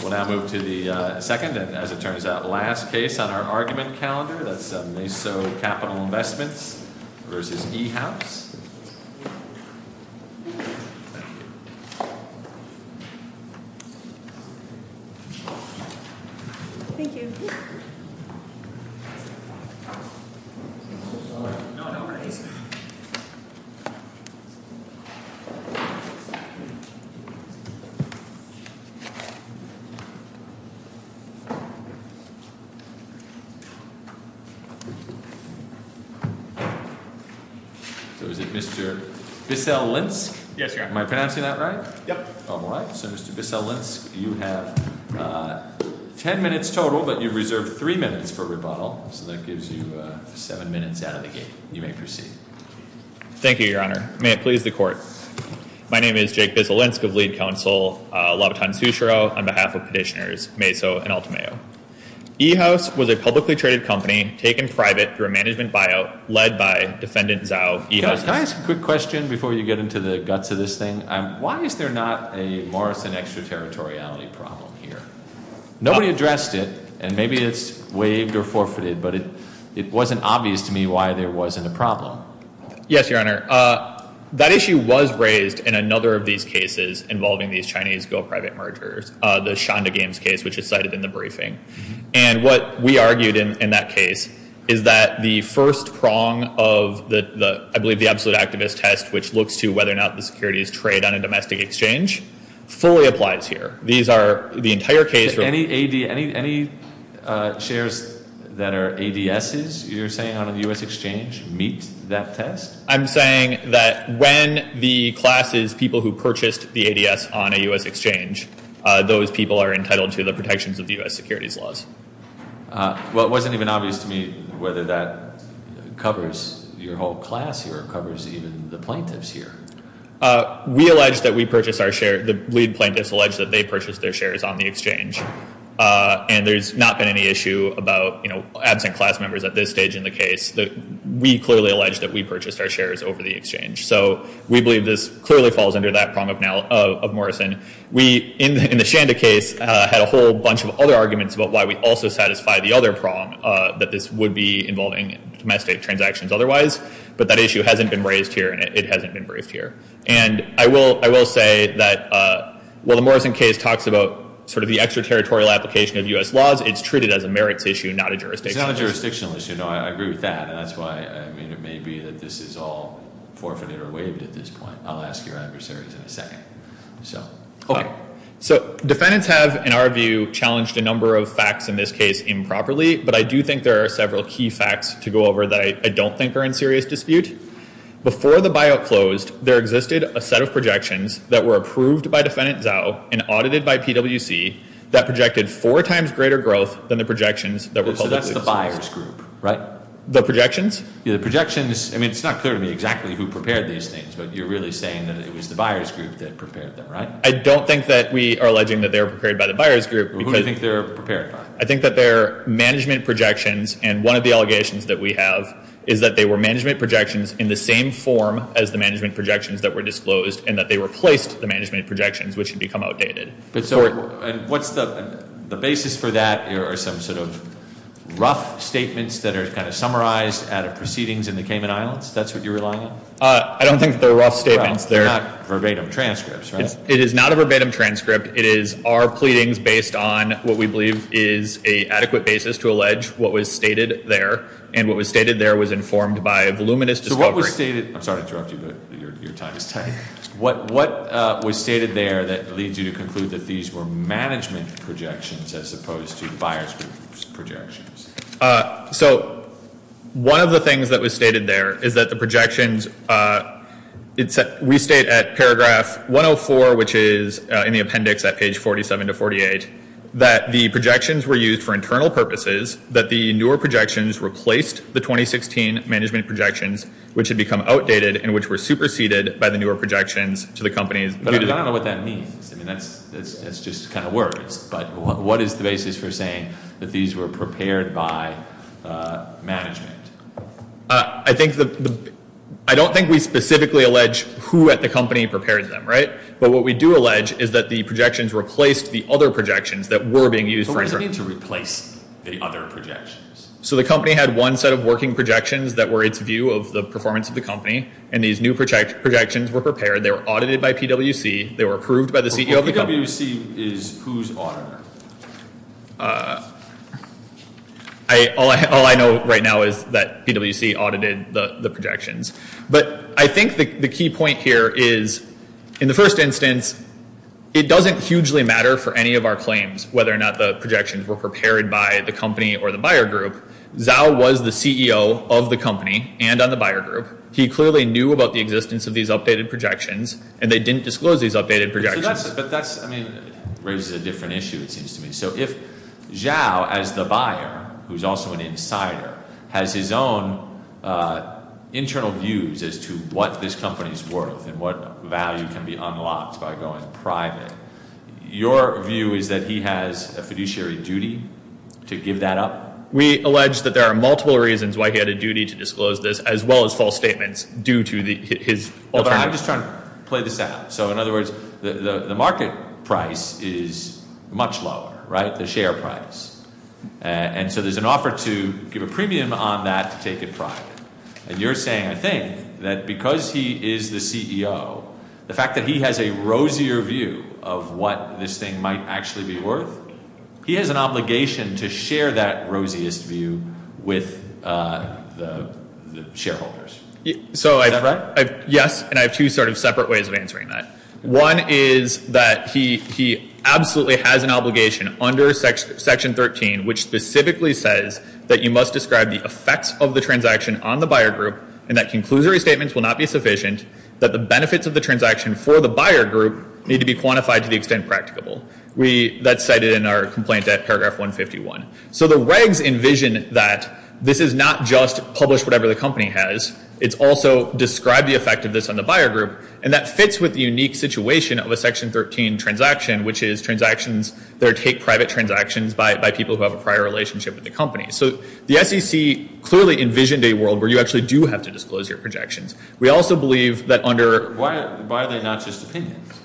We'll now move to the second and, as it turns out, last case on our argument calendar. That's Maso Capital Investments v. E-House. So is it Mr. Bissell Linsk? Yes, Your Honor. Am I pronouncing that right? Yep. All right. So Mr. Bissell Linsk, you have ten minutes total, but you reserve three minutes for rebuttal. So that gives you seven minutes out of the gate. You may proceed. Thank you, Your Honor. May it please the Court. My name is Jake Bissell Linsk of Lead Counsel, Labaton-Sushiro, on behalf of Petitioners Maso and Altamayo. E-House was a publicly traded company taken private through a management buyout led by Defendant Zhao of E-House. Can I ask a quick question before you get into the guts of this thing? Why is there not a Morrison extraterritoriality problem here? Nobody addressed it, and maybe it's waived or forfeited, but it wasn't obvious to me why there wasn't a problem. Yes, Your Honor. That issue was raised in another of these cases involving these Chinese go-private mergers, the Shonda Games case, which is cited in the briefing. And what we argued in that case is that the first prong of, I believe, the absolute activist test, which looks to whether or not the securities trade on a domestic exchange, fully applies here. These are the entire case— Any shares that are ADSs, you're saying, on a U.S. exchange meet that test? I'm saying that when the class is people who purchased the ADS on a U.S. exchange, those people are entitled to the protections of U.S. securities laws. Well, it wasn't even obvious to me whether that covers your whole class here or covers even the plaintiffs here. We allege that we purchased our share—the lead plaintiffs allege that they purchased their shares on the exchange, and there's not been any issue about absent class members at this stage in the case. We clearly allege that we purchased our shares over the exchange, so we believe this clearly falls under that prong of Morrison. We, in the Shonda case, had a whole bunch of other arguments about why we also satisfy the other prong, that this would be involving domestic transactions otherwise, but that issue hasn't been raised here, and it hasn't been briefed here. And I will say that while the Morrison case talks about sort of the extraterritorial application of U.S. laws, it's treated as a merits issue, not a jurisdictional issue. I agree with that, and that's why, I mean, it may be that this is all forfeited or waived at this point. I'll ask your adversaries in a second. Okay. So defendants have, in our view, challenged a number of facts in this case improperly, but I do think there are several key facts to go over that I don't think are in serious dispute. Before the buyout closed, there existed a set of projections that were approved by Defendant Zhao and audited by PWC that projected four times greater growth than the projections that were publicly— So that's the buyer's group, right? The projections? Yeah, the projections. I mean, it's not clear to me exactly who prepared these things, but you're really saying that it was the buyer's group that prepared them, right? I don't think that we are alleging that they were prepared by the buyer's group, because— Who do you think they were prepared by? I think that they're management projections, and one of the allegations that we have is that they were management projections in the same form as the management projections that were disclosed, and that they replaced the management projections, which had become outdated. And what's the basis for that? Are there some sort of rough statements that are kind of summarized out of proceedings in the Cayman Islands? That's what you're relying on? I don't think they're rough statements. They're not verbatim transcripts, right? It is not a verbatim transcript. It is our pleadings based on what we believe is an adequate basis to allege what was stated there, and what was stated there was informed by voluminous discovery. I'm sorry to interrupt you, but your time is tight. What was stated there that leads you to conclude that these were management projections as opposed to the buyer's group's projections? So, one of the things that was stated there is that the projections—we state at paragraph 104, which is in the appendix at page 47 to 48, that the projections were used for internal purposes, that the newer projections replaced the 2016 management projections, which had become outdated and which were superseded by the newer projections to the companies— But I don't know what that means. I mean, that's just kind of words. But what is the basis for saying that these were prepared by management? I think the—I don't think we specifically allege who at the company prepared them, right? But what we do allege is that the projections replaced the other projections that were being used for— But what does it mean to replace the other projections? So the company had one set of working projections that were its view of the performance of the company, and these new projections were prepared, they were audited by PwC, they were approved by the CEO of the company— But PwC is whose auditor? All I know right now is that PwC audited the projections. But I think the key point here is, in the first instance, it doesn't hugely matter for any of our claims whether or not the projections were prepared by the company or the buyer group. Zhao was the CEO of the company and on the buyer group. He clearly knew about the existence of these updated projections, and they didn't disclose these updated projections. But that raises a different issue, it seems to me. So if Zhao, as the buyer, who is also an insider, has his own internal views as to what this company is worth and what value can be unlocked by going private, your view is that he has a fiduciary duty to give that up? We allege that there are multiple reasons why he had a duty to disclose this, as well as false statements, due to his— I'm just trying to play this out. So in other words, the market price is much lower, right? The share price. And so there's an offer to give a premium on that to take it private. And you're saying, I think, that because he is the CEO, the fact that he has a rosier view of what this thing might actually be worth, he has an obligation to share that rosiest view with the shareholders. Is that right? Yes, and I have two sort of separate ways of answering that. One is that he absolutely has an obligation under Section 13, which specifically says that you must describe the effects of the transaction on the buyer group, and that conclusory statements will not be sufficient, that the benefits of the transaction for the buyer group need to be quantified to the extent practicable. That's cited in our complaint at paragraph 151. So the regs envision that this is not just publish whatever the company has. It's also describe the effect of this on the buyer group, and that fits with the unique situation of a Section 13 transaction, which is transactions that take private transactions by people who have a prior relationship with the company. So the SEC clearly envisioned a world where you actually do have to disclose your projections. We also believe that under— Why are they not just opinions?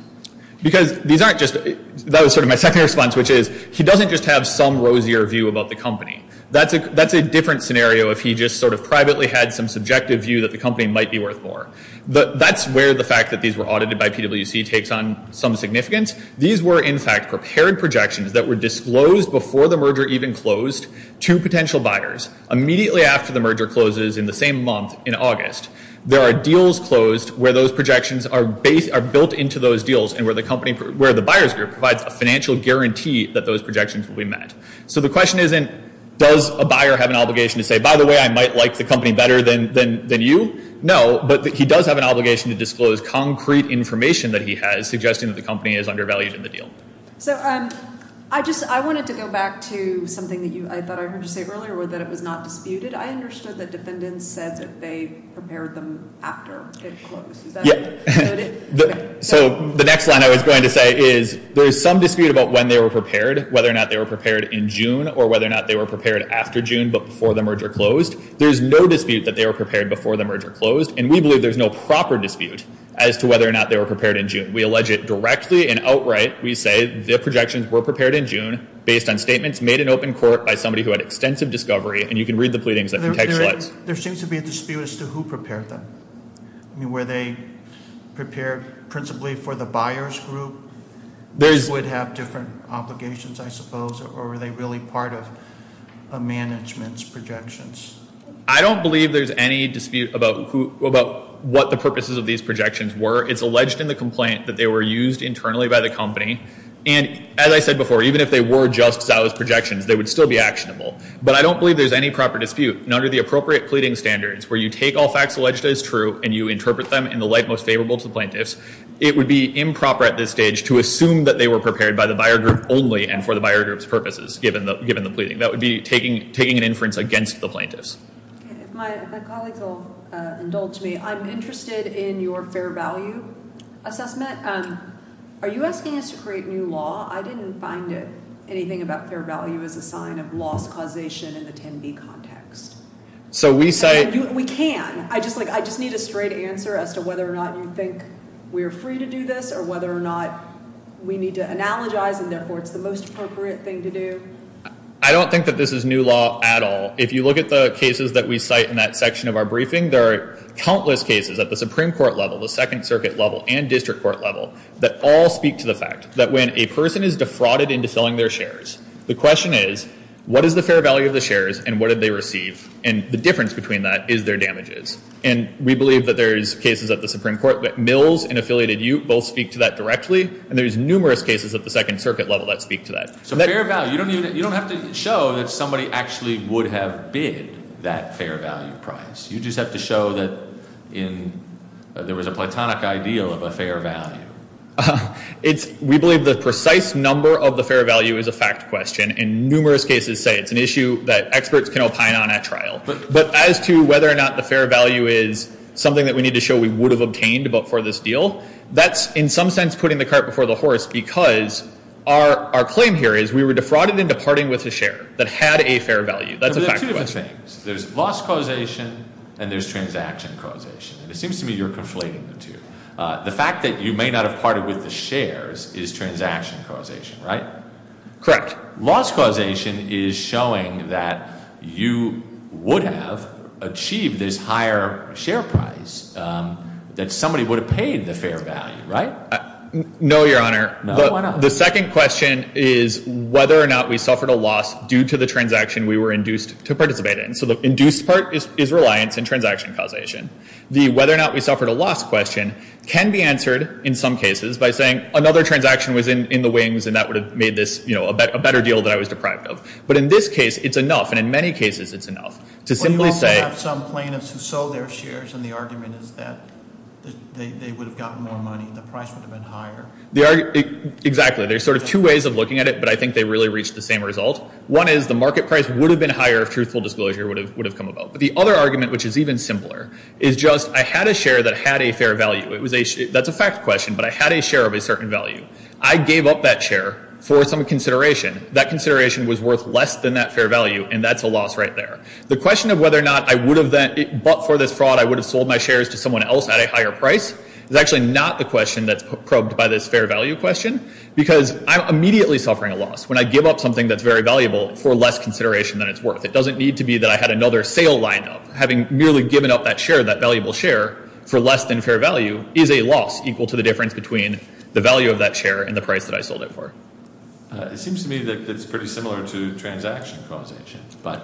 Because these aren't just—that was sort of my second response, which is he doesn't just have some rosier view about the company. That's a different scenario if he just sort of privately had some subjective view that the company might be worth more. That's where the fact that these were audited by PWC takes on some significance. These were, in fact, prepared projections that were disclosed before the merger even closed to potential buyers, immediately after the merger closes in the same month in August. There are deals closed where those projections are built into those deals and where the company—where the buyer's group provides a financial guarantee that those projections will be met. So the question isn't does a buyer have an obligation to say, by the way, I might like the company better than you? No, but he does have an obligation to disclose concrete information that he has suggesting that the company is undervalued in the deal. So I just—I wanted to go back to something that you—I thought I heard you say earlier that it was not disputed. I understood that defendants said that they prepared them after it closed. Is that— So the next line I was going to say is there is some dispute about when they were prepared, whether or not they were prepared in June, or whether or not they were prepared after June but before the merger closed. There's no dispute that they were prepared before the merger closed, and we believe there's no proper dispute as to whether or not they were prepared in June. We allege it directly and outright. We say the projections were prepared in June based on statements made in open court by somebody who had extensive discovery, and you can read the pleadings in the text slides. There seems to be a dispute as to who prepared them. I mean, were they prepared principally for the buyer's group? They would have different obligations, I suppose, or were they really part of a management's projections? I don't believe there's any dispute about who—about what the purposes of these projections were. It's alleged in the complaint that they were used internally by the company, and as I said before, even if they were just Zao's projections, they would still be actionable. But I don't believe there's any proper dispute. And under the appropriate pleading standards, where you take all facts alleged as true and you interpret them in the light most favorable to the plaintiffs, it would be improper at this stage to assume that they were prepared by the buyer group only and for the buyer group's purposes, given the pleading. That would be taking an inference against the plaintiffs. My colleagues will indulge me. I'm interested in your fair value assessment. Are you asking us to create new law? I didn't find anything about fair value as a sign of loss causation in the 10B context. So we say— We can. I just need a straight answer as to whether or not you think we are free to do this or whether or not we need to analogize and therefore it's the most appropriate thing to do. I don't think that this is new law at all. If you look at the cases that we cite in that section of our briefing, there are countless cases at the Supreme Court level, the Second Circuit level, and district court level that all speak to the fact that when a person is defrauded into selling their shares, the question is, what is the fair value of the shares and what did they receive? And the difference between that is their damages. And we believe that there's cases at the Supreme Court that Mills and affiliated youth both speak to that directly, and there's numerous cases at the Second Circuit level that speak to that. So fair value. You don't have to show that somebody actually would have bid that fair value price. You just have to show that there was a platonic ideal of a fair value. We believe the precise number of the fair value is a fact question. And numerous cases say it's an issue that experts can opine on at trial. But as to whether or not the fair value is something that we need to show we would have obtained for this deal, that's in some sense putting the cart before the horse because our claim here is we were defrauded into parting with a share that had a fair value. That's a fact question. There's two different things. There's loss causation and there's transaction causation. And it seems to me you're conflating the two. The fact that you may not have parted with the shares is transaction causation, right? Correct. Loss causation is showing that you would have achieved this higher share price that somebody would have paid the fair value, right? No, Your Honor. No? Why not? The second question is whether or not we suffered a loss due to the transaction we were induced to participate in. So the induced part is reliance and transaction causation. The whether or not we suffered a loss question can be answered in some cases by saying another transaction was in the wings and that would have made this, you know, a better deal that I was deprived of. But in this case it's enough and in many cases it's enough to simply say- But you also have some plaintiffs who sold their shares and the argument is that they would have gotten more money and the price would have been higher. Exactly. There's sort of two ways of looking at it but I think they really reach the same result. One is the market price would have been higher if truthful disclosure would have come about. But the other argument which is even simpler is just I had a share that had a fair value. That's a fact question but I had a share of a certain value. I gave up that share for some consideration. That consideration was worth less than that fair value and that's a loss right there. The question of whether or not I would have then- But for this fraud I would have sold my shares to someone else at a higher price is actually not the question that's probed by this fair value question because I'm immediately suffering a loss when I give up something that's very valuable for less consideration than it's worth. It doesn't need to be that I had another sale lined up. Having merely given up that share, that valuable share for less than fair value is a loss equal to the difference between the value of that share and the price that I sold it for. It seems to me that it's pretty similar to transaction causation. But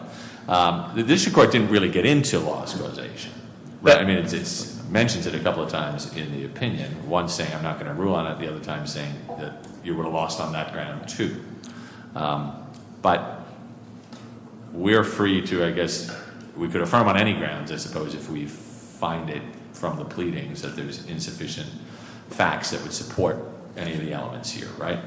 the district court didn't really get into loss causation. I mean it mentions it a couple of times in the opinion. One saying I'm not going to rule on it. The other time saying that you were lost on that ground too. But we're free to, I guess, we could affirm on any grounds I suppose if we find it from the pleadings that there's insufficient facts that would support any of the elements here, right?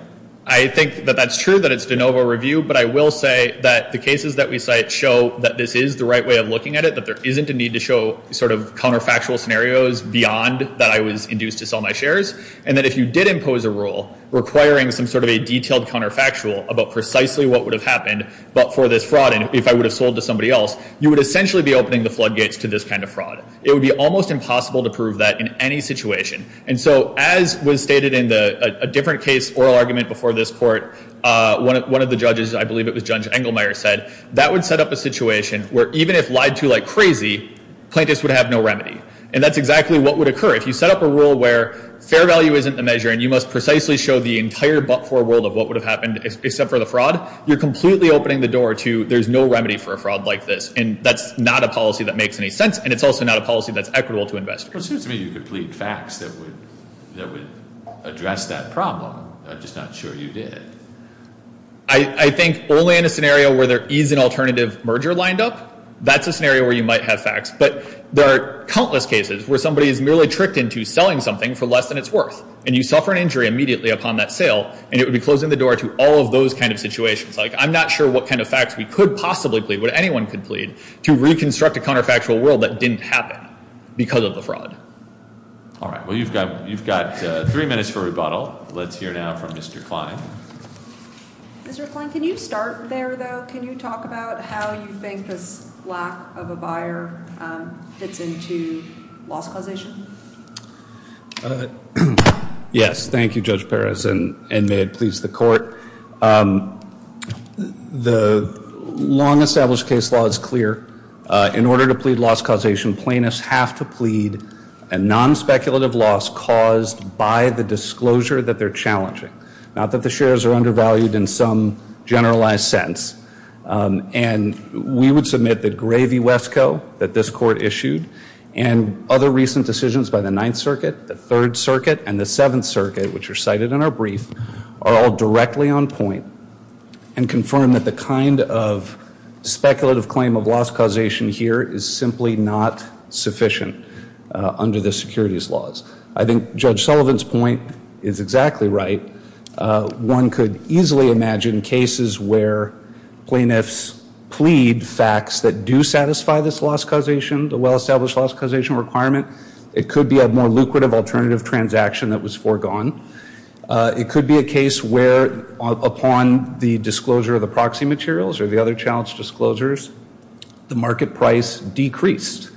I think that that's true that it's de novo review. But I will say that the cases that we cite show that this is the right way of looking at it. That there isn't a need to show sort of counterfactual scenarios beyond that I was induced to sell my shares. And that if you did impose a rule requiring some sort of a detailed counterfactual about precisely what would have happened but for this fraud and if I would have sold to somebody else, you would essentially be opening the floodgates to this kind of fraud. It would be almost impossible to prove that in any situation. And so as was stated in a different case oral argument before this court, one of the judges, I believe it was Judge Engelmeyer said, that would set up a situation where even if lied to like crazy, plaintiffs would have no remedy. And that's exactly what would occur. If you set up a rule where fair value isn't the measure and you must precisely show the entire but-for world of what would have happened except for the fraud, you're completely opening the door to there's no remedy for a fraud like this. And that's not a policy that makes any sense. And it's also not a policy that's equitable to investors. Well, it seems to me you could plead facts that would address that problem. I'm just not sure you did. I think only in a scenario where there is an alternative merger lined up, that's a scenario where you might have facts. But there are countless cases where somebody is merely tricked into selling something for less than it's worth, and you suffer an injury immediately upon that sale, and it would be closing the door to all of those kind of situations. Like I'm not sure what kind of facts we could possibly plead, what anyone could plead to reconstruct a counterfactual world that didn't happen because of the fraud. All right. Well, you've got three minutes for rebuttal. Let's hear now from Mr. Klein. Mr. Klein, can you start there, though? Can you talk about how you think this lack of a buyer fits into loss causation? Yes. Thank you, Judge Perez, and may it please the Court. The long-established case law is clear. In order to plead loss causation, plaintiffs have to plead a non-speculative loss caused by the disclosure that they're challenging, not that the shares are undervalued in some generalized sense. And we would submit that Gravy Wesco that this Court issued and other recent decisions by the Ninth Circuit, the Third Circuit, and the Seventh Circuit, which are cited in our brief, are all directly on point and confirm that the kind of speculative claim of loss causation here is simply not sufficient under the securities laws. I think Judge Sullivan's point is exactly right. One could easily imagine cases where plaintiffs plead facts that do satisfy this loss causation, the well-established loss causation requirement. It could be a more lucrative alternative transaction that was foregone. It could be a case where, upon the disclosure of the proxy materials or the other challenged disclosures, the market price decreased,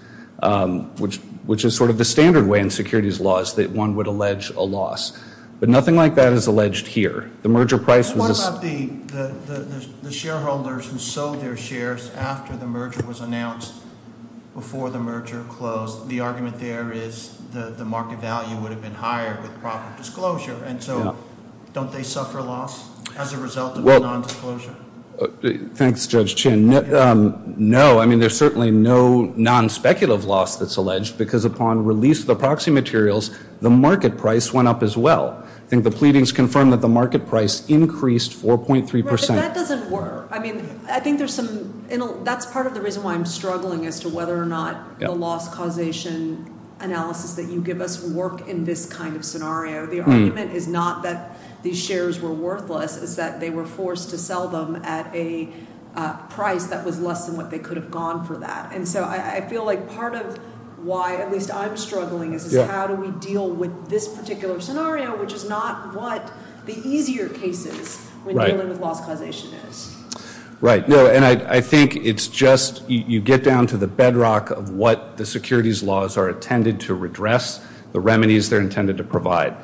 which is sort of the standard way in securities laws that one would allege a loss. But nothing like that is alleged here. The merger price was a... What about the shareholders who sold their shares after the merger was announced, before the merger closed? The argument there is the market value would have been higher with proper disclosure. And so don't they suffer loss as a result of the nondisclosure? Thanks, Judge Chin. No. I mean, there's certainly no nonspeculative loss that's alleged, because upon release of the proxy materials, the market price went up as well. I think the pleadings confirm that the market price increased 4.3 percent. Right, but that doesn't work. I mean, I think there's some... That's part of the reason why I'm struggling as to whether or not the loss causation analysis that you give us would work in this kind of scenario. The argument is not that these shares were worthless. It's that they were forced to sell them at a price that was less than what they could have gone for that. And so I feel like part of why at least I'm struggling is how do we deal with this particular scenario, which is not what the easier cases when dealing with loss causation is. Right. No, and I think it's just you get down to the bedrock of what the securities laws are intended to redress, the remedies they're intended to provide.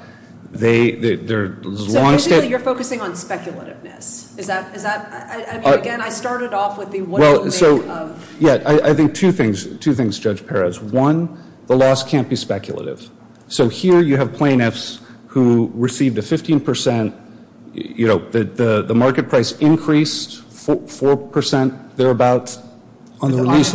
So basically you're focusing on speculativeness. I mean, again, I started off with the what do you make of... Yeah, I think two things, Judge Perez. One, the loss can't be speculative. So here you have plaintiffs who received a 15 percent, you know, the market price increased 4 percent. The argument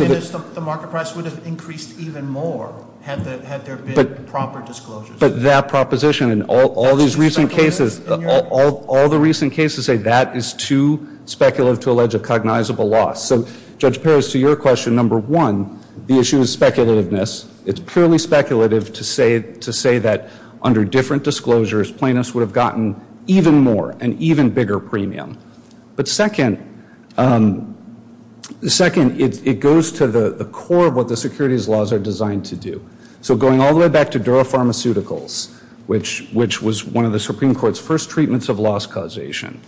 is the market price would have increased even more had there been proper disclosures. But that proposition and all these recent cases, all the recent cases say that is too speculative to allege a cognizable loss. So, Judge Perez, to your question, number one, the issue is speculativeness. It's purely speculative to say that under different disclosures plaintiffs would have gotten even more, an even bigger premium. But second, it goes to the core of what the securities laws are designed to do. So going all the way back to Dura Pharmaceuticals, which was one of the Supreme Court's first treatments of loss causation,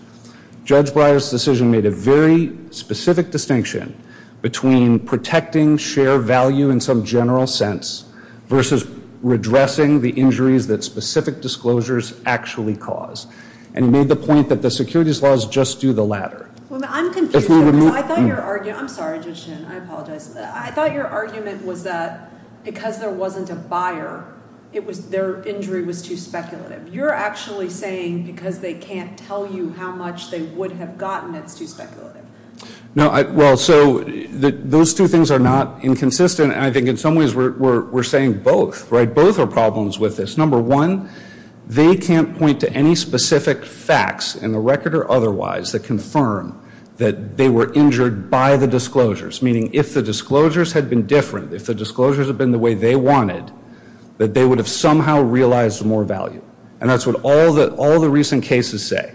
Judge Breyer's decision made a very specific distinction between protecting share value in some general sense versus redressing the injuries that specific disclosures actually cause. And he made the point that the securities laws just do the latter. Well, I'm confused. I thought your argument, I'm sorry, Judge Shin. I apologize. I thought your argument was that because there wasn't a buyer, their injury was too speculative. You're actually saying because they can't tell you how much they would have gotten, it's too speculative. No, well, so those two things are not inconsistent. I think in some ways we're saying both. Right? Both are problems with this. Number one, they can't point to any specific facts, in the record or otherwise, that confirm that they were injured by the disclosures. Meaning if the disclosures had been different, if the disclosures had been the way they wanted, that they would have somehow realized more value. And that's what all the recent cases say.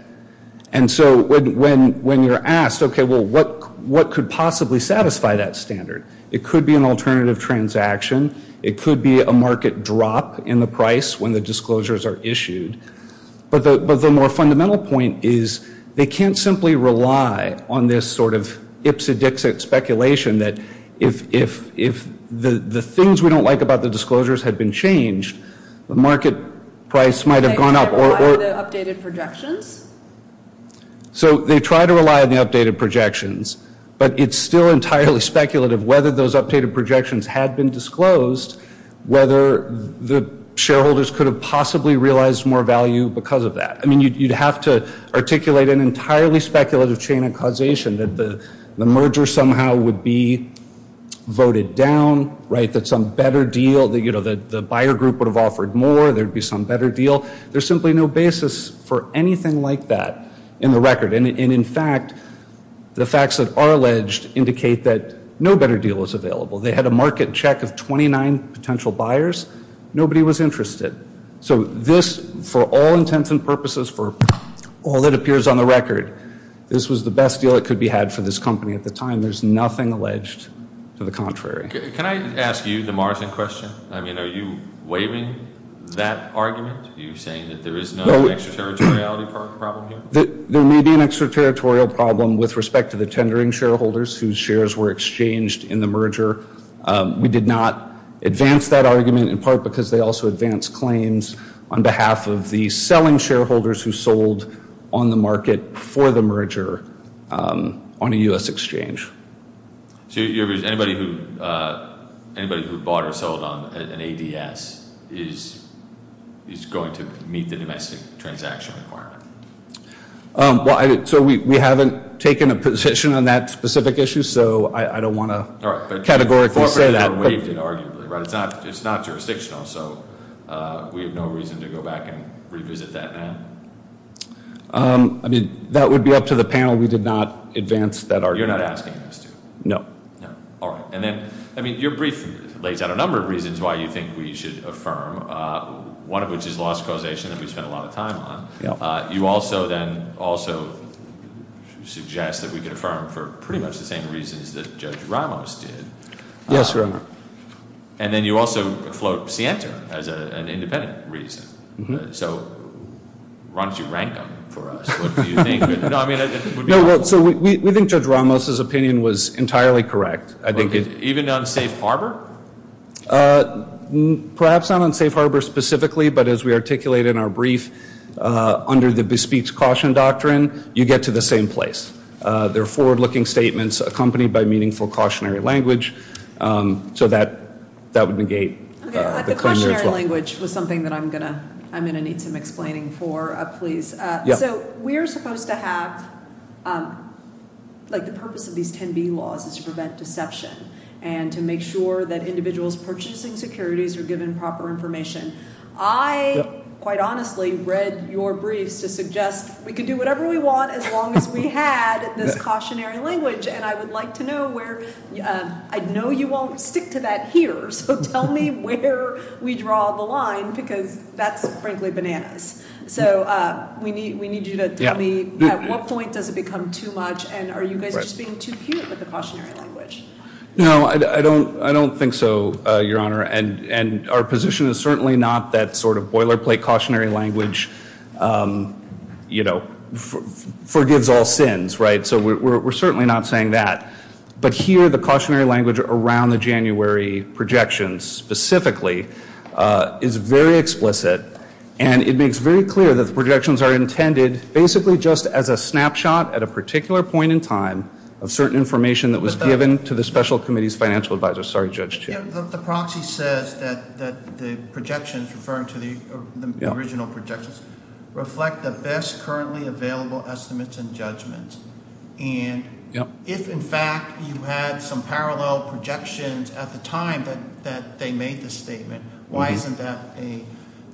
And so when you're asked, okay, well, what could possibly satisfy that standard? It could be an alternative transaction. It could be a market drop in the price when the disclosures are issued. But the more fundamental point is they can't simply rely on this sort of ipsy-dixy speculation that if the things we don't like about the disclosures had been changed, the market price might have gone up. Okay, so they rely on the updated projections? So they try to rely on the updated projections. But it's still entirely speculative whether those updated projections had been disclosed, whether the shareholders could have possibly realized more value because of that. I mean, you'd have to articulate an entirely speculative chain of causation, that the merger somehow would be voted down, right, that some better deal, that the buyer group would have offered more, there would be some better deal. There's simply no basis for anything like that in the record. And, in fact, the facts that are alleged indicate that no better deal is available. They had a market check of 29 potential buyers. Nobody was interested. So this, for all intents and purposes, for all that appears on the record, this was the best deal that could be had for this company at the time. There's nothing alleged to the contrary. Can I ask you the margin question? I mean, are you waiving that argument? Are you saying that there is no extraterritoriality problem here? There may be an extraterritorial problem with respect to the tendering shareholders whose shares were exchanged in the merger. We did not advance that argument in part because they also advance claims on behalf of the selling shareholders who sold on the market for the merger on a U.S. exchange. So your view is anybody who bought or sold on an ADS is going to meet the domestic transaction requirement? Well, so we haven't taken a position on that specific issue, so I don't want to categorically say that. All right, but you forfeited or waived it, arguably, right? It's not jurisdictional, so we have no reason to go back and revisit that, ma'am. I mean, that would be up to the panel. We did not advance that argument. You're not asking us to? No. All right. I mean, your briefing lays out a number of reasons why you think we should affirm, one of which is loss of causation that we spent a lot of time on. You also then also suggest that we could affirm for pretty much the same reasons that Judge Ramos did. Yes, Your Honor. And then you also float Sienta as an independent reason. So why don't you rank them for us? No, well, so we think Judge Ramos' opinion was entirely correct. Even on safe harbor? Perhaps not on safe harbor specifically, but as we articulated in our brief, under the bespeech caution doctrine, you get to the same place. There are forward-looking statements accompanied by meaningful cautionary language, so that would negate the claim there as well. The cautionary language was something that I'm going to need some explaining for, please. So we're supposed to have – like the purpose of these 10B laws is to prevent deception and to make sure that individuals purchasing securities are given proper information. I, quite honestly, read your briefs to suggest we could do whatever we want as long as we had this cautionary language, and I would like to know where – I know you won't stick to that here, so tell me where we draw the line because that's frankly bananas. So we need you to tell me at what point does it become too much, and are you guys just being too cute with the cautionary language? No, I don't think so, Your Honor, and our position is certainly not that sort of boilerplate cautionary language forgives all sins, right? So we're certainly not saying that. But here the cautionary language around the January projections specifically is very explicit, and it makes very clear that the projections are intended basically just as a snapshot at a particular point in time of certain information that was given to the special committee's financial advisor. Sorry, Judge Chiu. The proxy says that the projections referring to the original projections reflect the best currently available estimates and judgments, and if in fact you had some parallel projections at the time that they made the statement, why isn't that a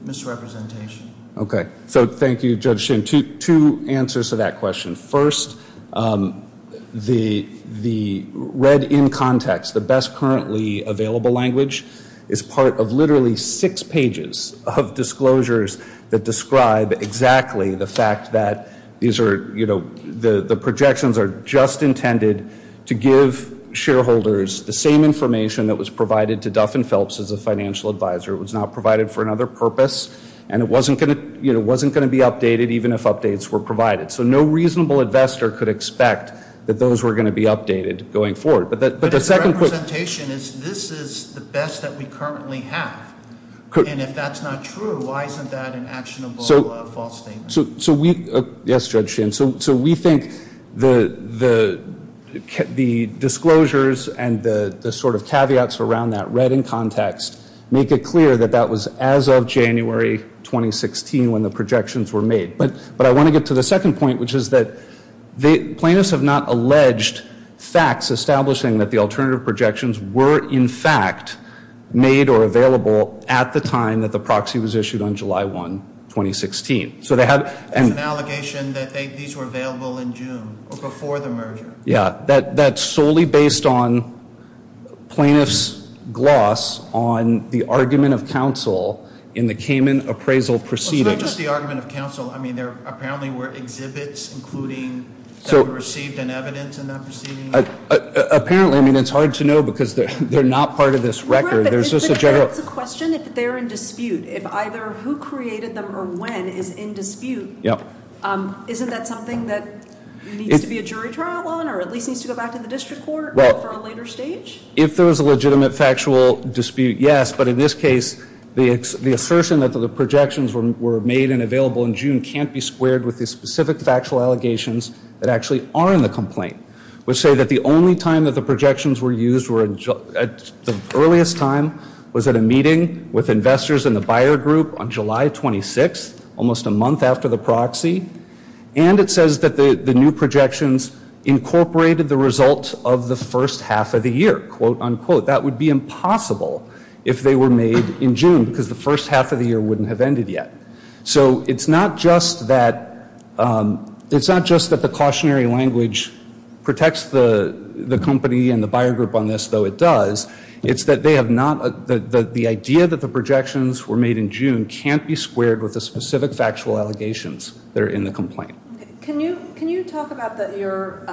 misrepresentation? Okay, so thank you, Judge Shin. Two answers to that question. First, the read in context, the best currently available language, is part of literally six pages of disclosures that describe exactly the fact that the projections are just intended to give shareholders the same information that was provided to Duff and Phelps as a financial advisor. It was not provided for another purpose, and it wasn't going to be updated even if updates were provided. So no reasonable investor could expect that those were going to be updated going forward. But the representation is this is the best that we currently have. And if that's not true, why isn't that an actionable false statement? Yes, Judge Shin. So we think the disclosures and the sort of caveats around that read in context make it clear that that was as of January 2016 when the projections were made. But I want to get to the second point, which is that plaintiffs have not alleged facts establishing that the alternative projections were in fact made or available at the time that the proxy was issued on July 1, 2016. So they have an allegation that these were available in June or before the merger. Yeah, that's solely based on plaintiffs' gloss on the argument of counsel in the Cayman appraisal proceedings. It's not just the argument of counsel. I mean, there apparently were exhibits, including that were received in evidence in that proceeding. Apparently. I mean, it's hard to know because they're not part of this record. There's just a general question if they're in dispute, if either who created them or when is in dispute. Isn't that something that needs to be a jury trial on or at least needs to go back to the district court for a later stage? If there was a legitimate factual dispute, yes. But in this case, the assertion that the projections were made and available in June can't be squared with the specific factual allegations that actually are in the complaint, which say that the only time that the projections were used were at the earliest time was at a meeting with investors in the buyer group on July 26, almost a month after the proxy. And it says that the new projections incorporated the result of the first half of the year, quote, unquote. That would be impossible if they were made in June because the first half of the year wouldn't have ended yet. So it's not just that it's not just that the cautionary language protects the company and the buyer group on this, though it does, it's that they have not the idea that the projections were made in June can't be squared with the specific factual allegations that are in the complaint. Can you talk about that you're,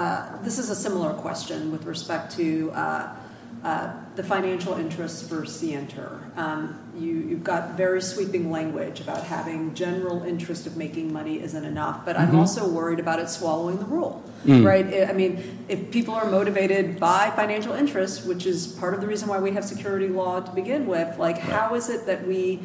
this is a similar question with respect to the financial interests for CNTER. You've got very sweeping language about having general interest of making money isn't enough, but I'm also worried about it swallowing the rule, right? I mean, if people are motivated by financial interests, which is part of the reason why we have security law to begin with, like how is it that we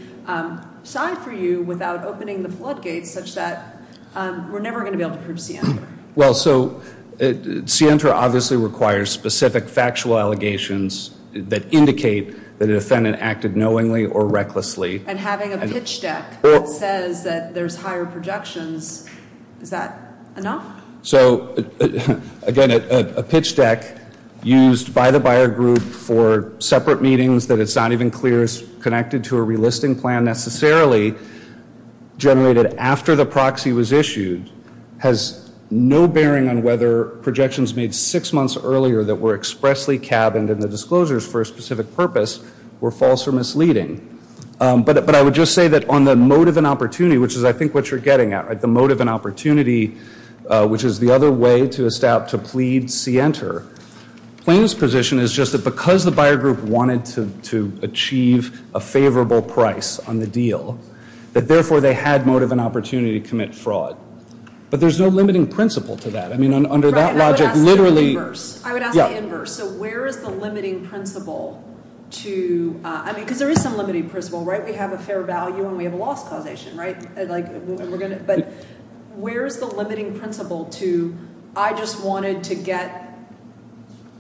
side for you without opening the floodgates such that we're never going to be able to prove CNTER? Well, so CNTER obviously requires specific factual allegations that indicate that a defendant acted knowingly or recklessly. And having a pitch deck that says that there's higher projections, is that enough? So again, a pitch deck used by the buyer group for separate meetings that it's not even clear is connected to a relisting plan necessarily, generated after the proxy was issued, has no bearing on whether projections made six months earlier that were expressly cabined in the disclosures for a specific purpose were false or misleading. But I would just say that on the motive and opportunity, which is I think what you're getting at, right, on the motive and opportunity, which is the other way to estab to plead CNTER, plaintiff's position is just that because the buyer group wanted to achieve a favorable price on the deal, that therefore they had motive and opportunity to commit fraud. But there's no limiting principle to that. I mean, under that logic, literally – I would ask the inverse. So where is the limiting principle to – I mean, because there is some limiting principle, right? We have a fair value and we have a loss causation, right? But where is the limiting principle to I just wanted to get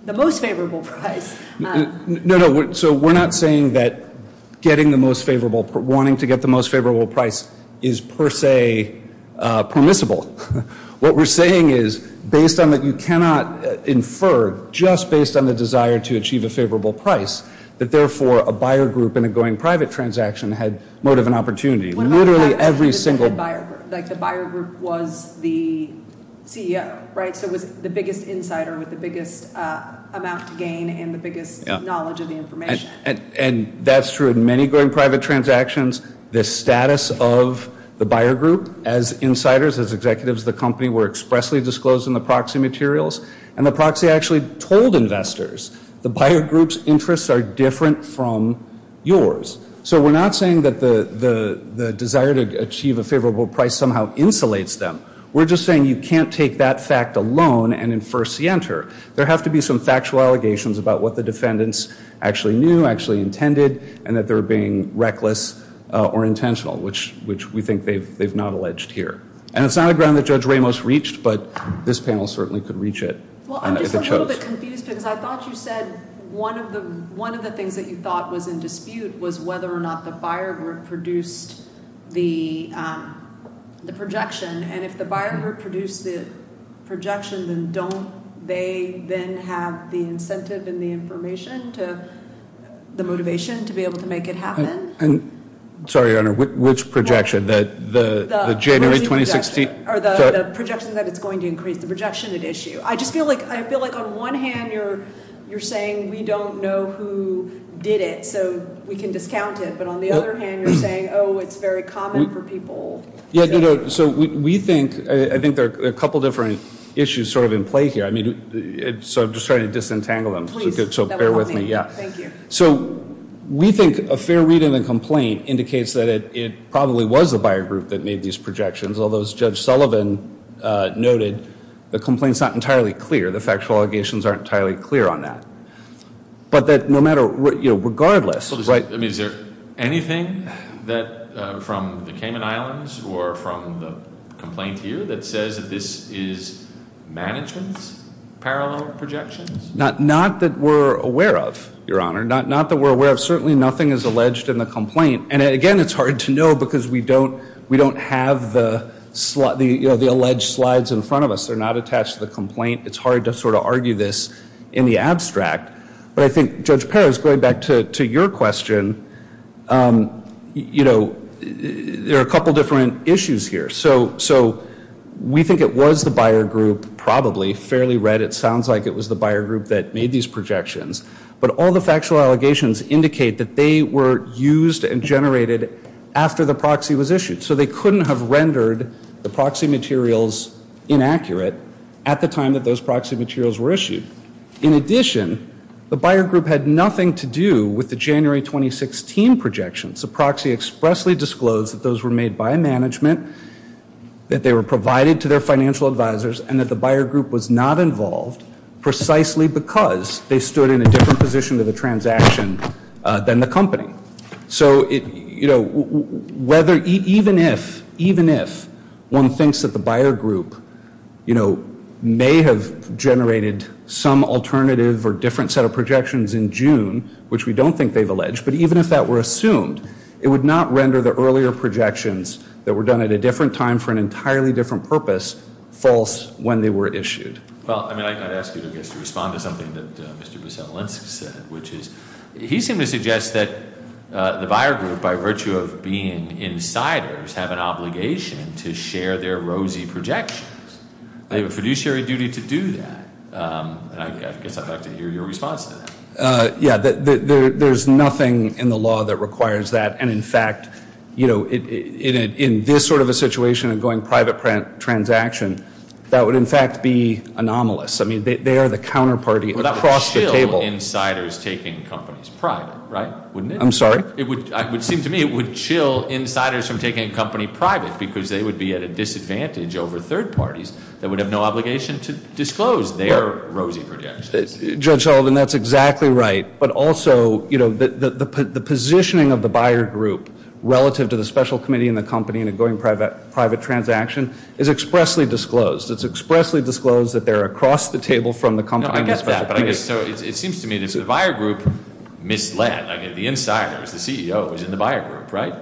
the most favorable price? No, no. So we're not saying that getting the most favorable – wanting to get the most favorable price is per se permissible. What we're saying is based on that you cannot infer just based on the desire to achieve a favorable price that therefore a buyer group in a going private transaction had motive and opportunity. Literally every single – Like the buyer group was the CEO, right? So it was the biggest insider with the biggest amount to gain and the biggest knowledge of the information. And that's true in many going private transactions. The status of the buyer group as insiders, as executives of the company, were expressly disclosed in the proxy materials. And the proxy actually told investors the buyer group's interests are different from yours. So we're not saying that the desire to achieve a favorable price somehow insulates them. We're just saying you can't take that fact alone and infer center. There have to be some factual allegations about what the defendants actually knew, actually intended, and that they're being reckless or intentional, which we think they've not alleged here. And it's not a ground that Judge Ramos reached, but this panel certainly could reach it. Well, I'm just a little bit confused because I thought you said one of the things that you thought was in dispute was whether or not the buyer group produced the projection. And if the buyer group produced the projection, then don't they then have the incentive and the information to – the motivation to be able to make it happen? Sorry, Your Honor, which projection? The January 2016? The projection that it's going to increase, the projection at issue. I just feel like on one hand you're saying we don't know who did it, so we can discount it, but on the other hand you're saying, oh, it's very common for people. So we think – I think there are a couple different issues sort of in play here. So I'm just trying to disentangle them, so bear with me. So we think a fair reading of the complaint indicates that it probably was the buyer group that made these projections, although as Judge Sullivan noted, the complaint's not entirely clear. The factual allegations aren't entirely clear on that. But that no matter – regardless – Is there anything from the Cayman Islands or from the complaint here that says that this is management's parallel projections? Not that we're aware of, Your Honor. Not that we're aware of. Certainly nothing is alleged in the complaint. And again, it's hard to know because we don't have the alleged slides in front of us. They're not attached to the complaint. It's hard to sort of argue this in the abstract. But I think, Judge Perez, going back to your question, you know, there are a couple different issues here. So we think it was the buyer group, probably, fairly read. It sounds like it was the buyer group that made these projections. But all the factual allegations indicate that they were used and generated after the proxy was issued. So they couldn't have rendered the proxy materials inaccurate at the time that those proxy materials were issued. In addition, the buyer group had nothing to do with the January 2016 projections. The proxy expressly disclosed that those were made by management, that they were provided to their financial advisors, and that the buyer group was not involved precisely because they stood in a different position of the transaction than the company. So, you know, whether, even if, even if one thinks that the buyer group, you know, may have generated some alternative or different set of projections in June, which we don't think they've alleged, but even if that were assumed, it would not render the earlier projections that were done at a different time for an entirely different purpose false when they were issued. Well, I mean, I'd ask you, I guess, to respond to something that Mr. Veselinsk said, which is he seemed to suggest that the buyer group, by virtue of being insiders, have an obligation to share their rosy projections. They have a fiduciary duty to do that. And I guess I'd like to hear your response to that. Yeah, there's nothing in the law that requires that. And, in fact, you know, in this sort of a situation of going private transaction, that would, in fact, be anomalous. I mean, they are the counterparty across the table. Well, that would chill insiders taking companies private, right? Wouldn't it? I'm sorry? It would, it would seem to me, it would chill insiders from taking a company private because they would be at a disadvantage over third parties that would have no obligation to disclose their rosy projections. Judge Sullivan, that's exactly right. But also, you know, the positioning of the buyer group relative to the special committee and the company in a going private transaction is expressly disclosed. It's expressly disclosed that they're across the table from the company. No, I get that. But I guess, so it seems to me that the buyer group misled, I mean, the insiders, the CEO was in the buyer group, right?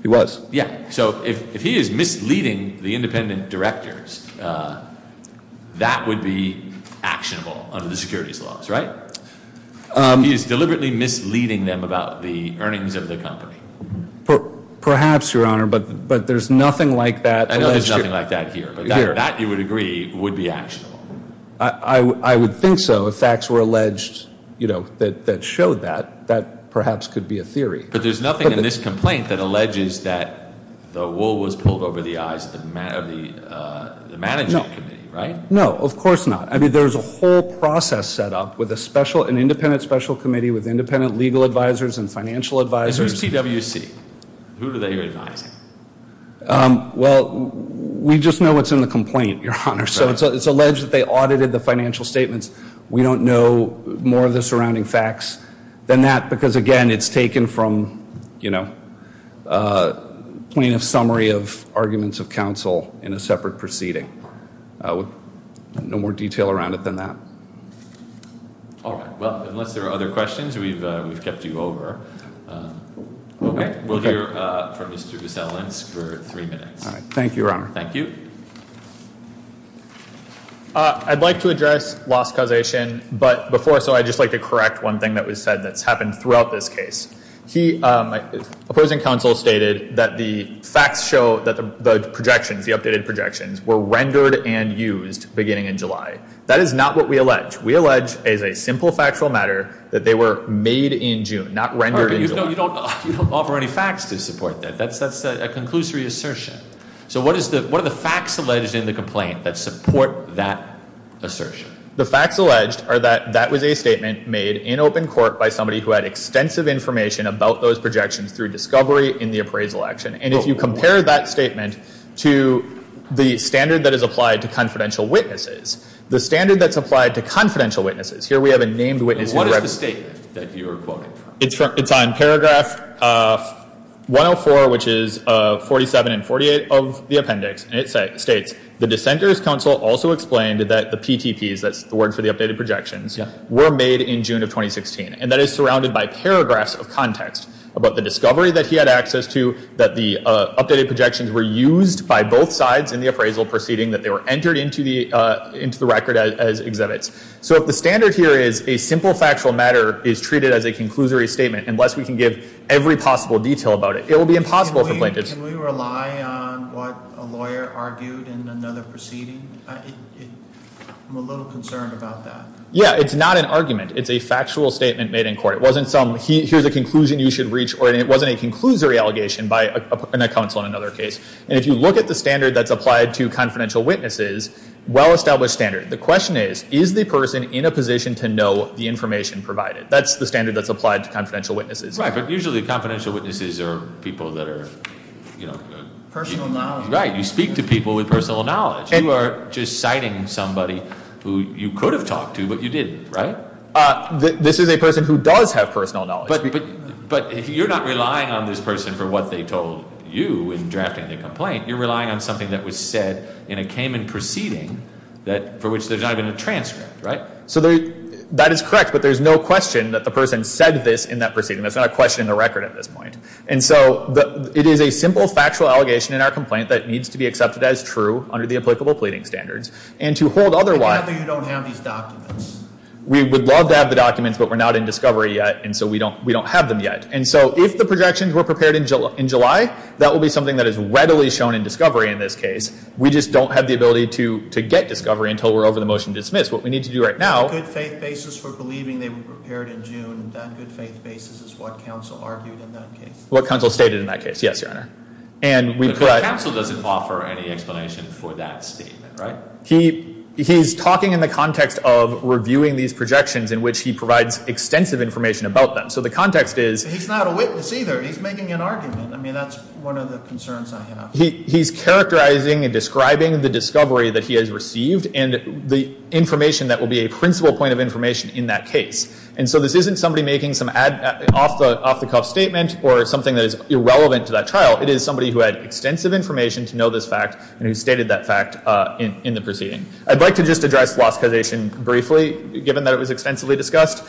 He was. Yeah. So if he is misleading the independent directors, that would be actionable under the securities laws, right? He is deliberately misleading them about the earnings of the company. Perhaps, Your Honor, but there's nothing like that. I know there's nothing like that here. But that, you would agree, would be actionable. I would think so. If facts were alleged, you know, that showed that, that perhaps could be a theory. But there's nothing in this complaint that alleges that the wool was pulled over the eyes of the managing committee, right? No. No, of course not. I mean, there's a whole process set up with a special, an independent special committee with independent legal advisors and financial advisors. Is there a CWC? Who do they advise? Well, we just know what's in the complaint, Your Honor. So it's alleged that they audited the financial statements. We don't know more of the surrounding facts than that because, again, it's taken from, you know, plaintiff's summary of arguments of counsel in a separate proceeding. No more detail around it than that. All right. Well, unless there are other questions, we've kept you over. Okay. We'll hear from Mr. Veselance for three minutes. All right. Thank you, Your Honor. Thank you. I'd like to address loss causation, but before so I'd just like to correct one thing that was said that's happened throughout this case. The opposing counsel stated that the facts show that the projections, the updated projections, were rendered and used beginning in July. That is not what we allege. We allege as a simple factual matter that they were made in June, not rendered in July. You don't offer any facts to support that. That's a conclusory assertion. So what are the facts alleged in the complaint that support that assertion? The facts alleged are that that was a statement made in open court by somebody who had extensive information about those projections through discovery in the appraisal action. And if you compare that statement to the standard that is applied to confidential witnesses, the standard that's applied to confidential witnesses, here we have a named witness who represents. What is the statement that you are quoting from? It's on paragraph 104, which is 47 and 48 of the appendix. And it states, the dissenter's counsel also explained that the PTPs, that's the word for the updated projections, were made in June of 2016. And that is surrounded by paragraphs of context about the discovery that he had access to, that the updated projections were used by both sides in the appraisal proceeding, that they were entered into the record as exhibits. So if the standard here is a simple factual matter is treated as a conclusory statement, unless we can give every possible detail about it, it will be impossible for plaintiffs. Can we rely on what a lawyer argued in another proceeding? I'm a little concerned about that. Yeah, it's not an argument. It's a factual statement made in court. It wasn't some, here's a conclusion you should reach, or it wasn't a conclusory allegation by a counsel in another case. And if you look at the standard that's applied to confidential witnesses, well-established standard. The question is, is the person in a position to know the information provided? That's the standard that's applied to confidential witnesses. Right, but usually confidential witnesses are people that are, you know- Personal knowledge. Right, you speak to people with personal knowledge. You are just citing somebody who you could have talked to, but you didn't, right? This is a person who does have personal knowledge. But you're not relying on this person for what they told you in drafting the complaint. You're relying on something that was said in a Cayman proceeding for which there's not even a transcript, right? So that is correct, but there's no question that the person said this in that proceeding. That's not a question in the record at this point. And so it is a simple factual allegation in our complaint that needs to be accepted as true under the applicable pleading standards. And to hold otherwise- Even though you don't have these documents. We would love to have the documents, but we're not in discovery yet, and so we don't have them yet. And so if the projections were prepared in July, that will be something that is readily shown in discovery in this case. We just don't have the ability to get discovery until we're over the motion to dismiss. What we need to do right now- The good faith basis for believing they were prepared in June, that good faith basis is what counsel argued in that case. What counsel stated in that case, yes, Your Honor. And we- But counsel doesn't offer any explanation for that statement, right? He's talking in the context of reviewing these projections in which he provides extensive information about them. So the context is- He's not a witness either. He's making an argument. I mean, that's one of the concerns I have. He's characterizing and describing the discovery that he has received and the information that will be a principal point of information in that case. And so this isn't somebody making some off-the-cuff statement or something that is irrelevant to that trial. It is somebody who had extensive information to know this fact and who stated that fact in the proceeding. I'd like to just address floscazation briefly, given that it was extensively discussed.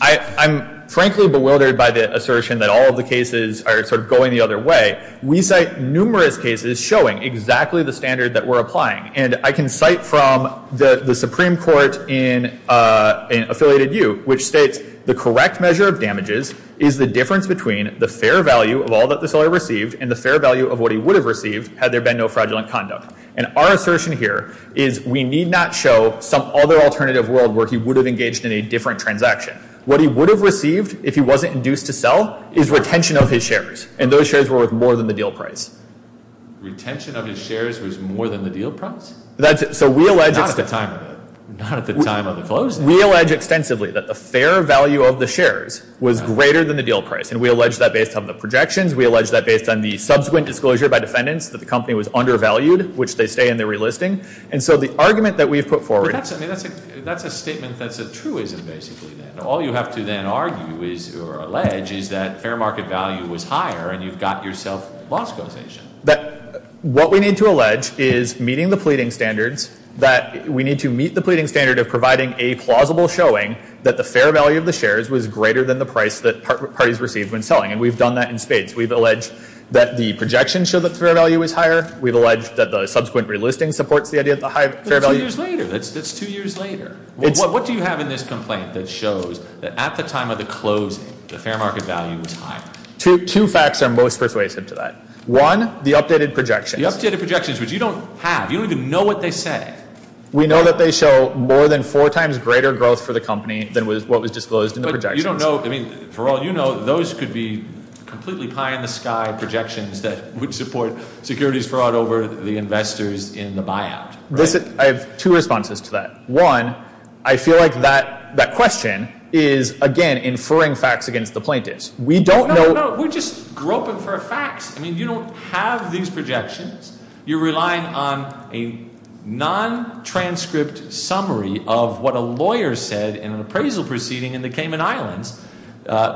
I'm frankly bewildered by the assertion that all of the cases are sort of going the other way. We cite numerous cases showing exactly the standard that we're applying. And I can cite from the Supreme Court in Affiliated U, which states, the correct measure of damages is the difference between the fair value of all that the seller received and the fair value of what he would have received had there been no fraudulent conduct. And our assertion here is we need not show some other alternative world where he would have engaged in a different transaction. What he would have received if he wasn't induced to sell is retention of his shares. And those shares were worth more than the deal price. Retention of his shares was more than the deal price? That's it. So we allege— Not at the time of the closing. We allege extensively that the fair value of the shares was greater than the deal price. And we allege that based on the projections. We allege that based on the subsequent disclosure by defendants that the company was undervalued, which they stay in the relisting. And so the argument that we've put forward— But that's a statement that's a truism, basically. All you have to then argue or allege is that fair market value was higher and you've got yourself lost causation. What we need to allege is, meeting the pleading standards, that we need to meet the pleading standard of providing a plausible showing that the fair value of the shares was greater than the price that parties received when selling. And we've done that in spades. We've alleged that the projections show that the fair value was higher. We've alleged that the subsequent relisting supports the idea that the high fair value— But that's two years later. That's two years later. What do you have in this complaint that shows that at the time of the closing, the fair market value was higher? Two facts are most persuasive to that. One, the updated projections. The updated projections, which you don't have. You don't even know what they say. We know that they show more than four times greater growth for the company than what was disclosed in the projections. But you don't know—I mean, for all you know, those could be completely pie-in-the-sky projections that would support securities fraud over the investors in the buyout. I have two responses to that. One, I feel like that question is, again, inferring facts against the plaintiffs. We don't know— No, no, no. We're just groping for facts. I mean, you don't have these projections. You're relying on a non-transcript summary of what a lawyer said in an appraisal proceeding in the Cayman Islands,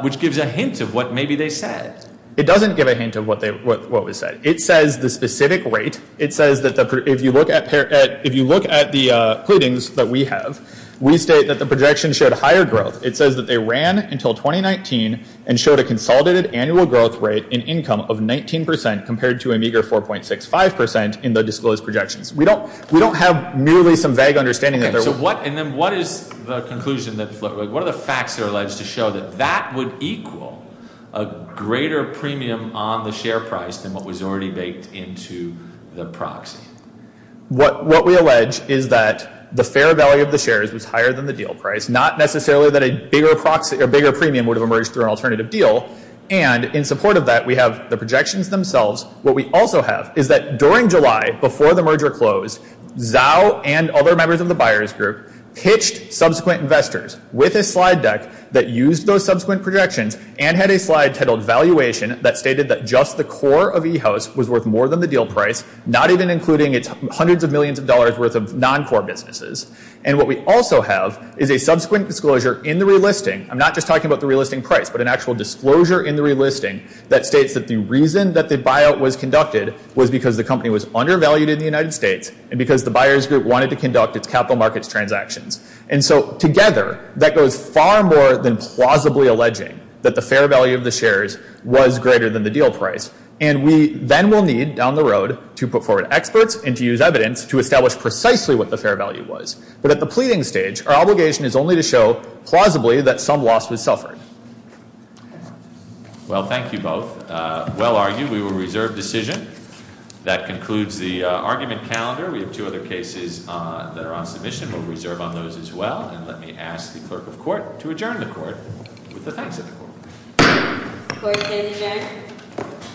which gives a hint of what maybe they said. It doesn't give a hint of what was said. It says the specific rate. It says that if you look at the pleadings that we have, we state that the projections showed higher growth. It says that they ran until 2019 and showed a consolidated annual growth rate in income of 19 percent compared to a meager 4.65 percent in the disclosed projections. We don't have nearly some vague understanding that there was— Okay, so what—and then what is the conclusion that—what are the facts that are alleged to show that that would equal a greater premium on the share price than what was already baked into the proxy? What we allege is that the fair value of the shares was higher than the deal price, not necessarily that a bigger premium would have emerged through an alternative deal. And in support of that, we have the projections themselves. What we also have is that during July, before the merger closed, Zhao and other members of the buyers group pitched subsequent investors with a slide deck that used those subsequent projections and had a slide titled Valuation that stated that just the core of e-house was worth more than the deal price, not even including its hundreds of millions of dollars worth of non-core businesses. And what we also have is a subsequent disclosure in the relisting. I'm not just talking about the relisting price, but an actual disclosure in the relisting that states that the reason that the buyout was conducted was because the company was undervalued in the United States and because the buyers group wanted to conduct its capital markets transactions. And so together, that goes far more than plausibly alleging that the fair value of the shares was greater than the deal price. And we then will need, down the road, to put forward experts and to use evidence to establish precisely what the fair value was. But at the pleading stage, our obligation is only to show, plausibly, that some loss was suffered. Well, thank you both. Well argued. We will reserve decision. That concludes the argument calendar. We have two other cases that are on submission. We'll reserve on those as well. And let me ask the clerk of court to adjourn the court with the thanks of the court. Court is adjourned.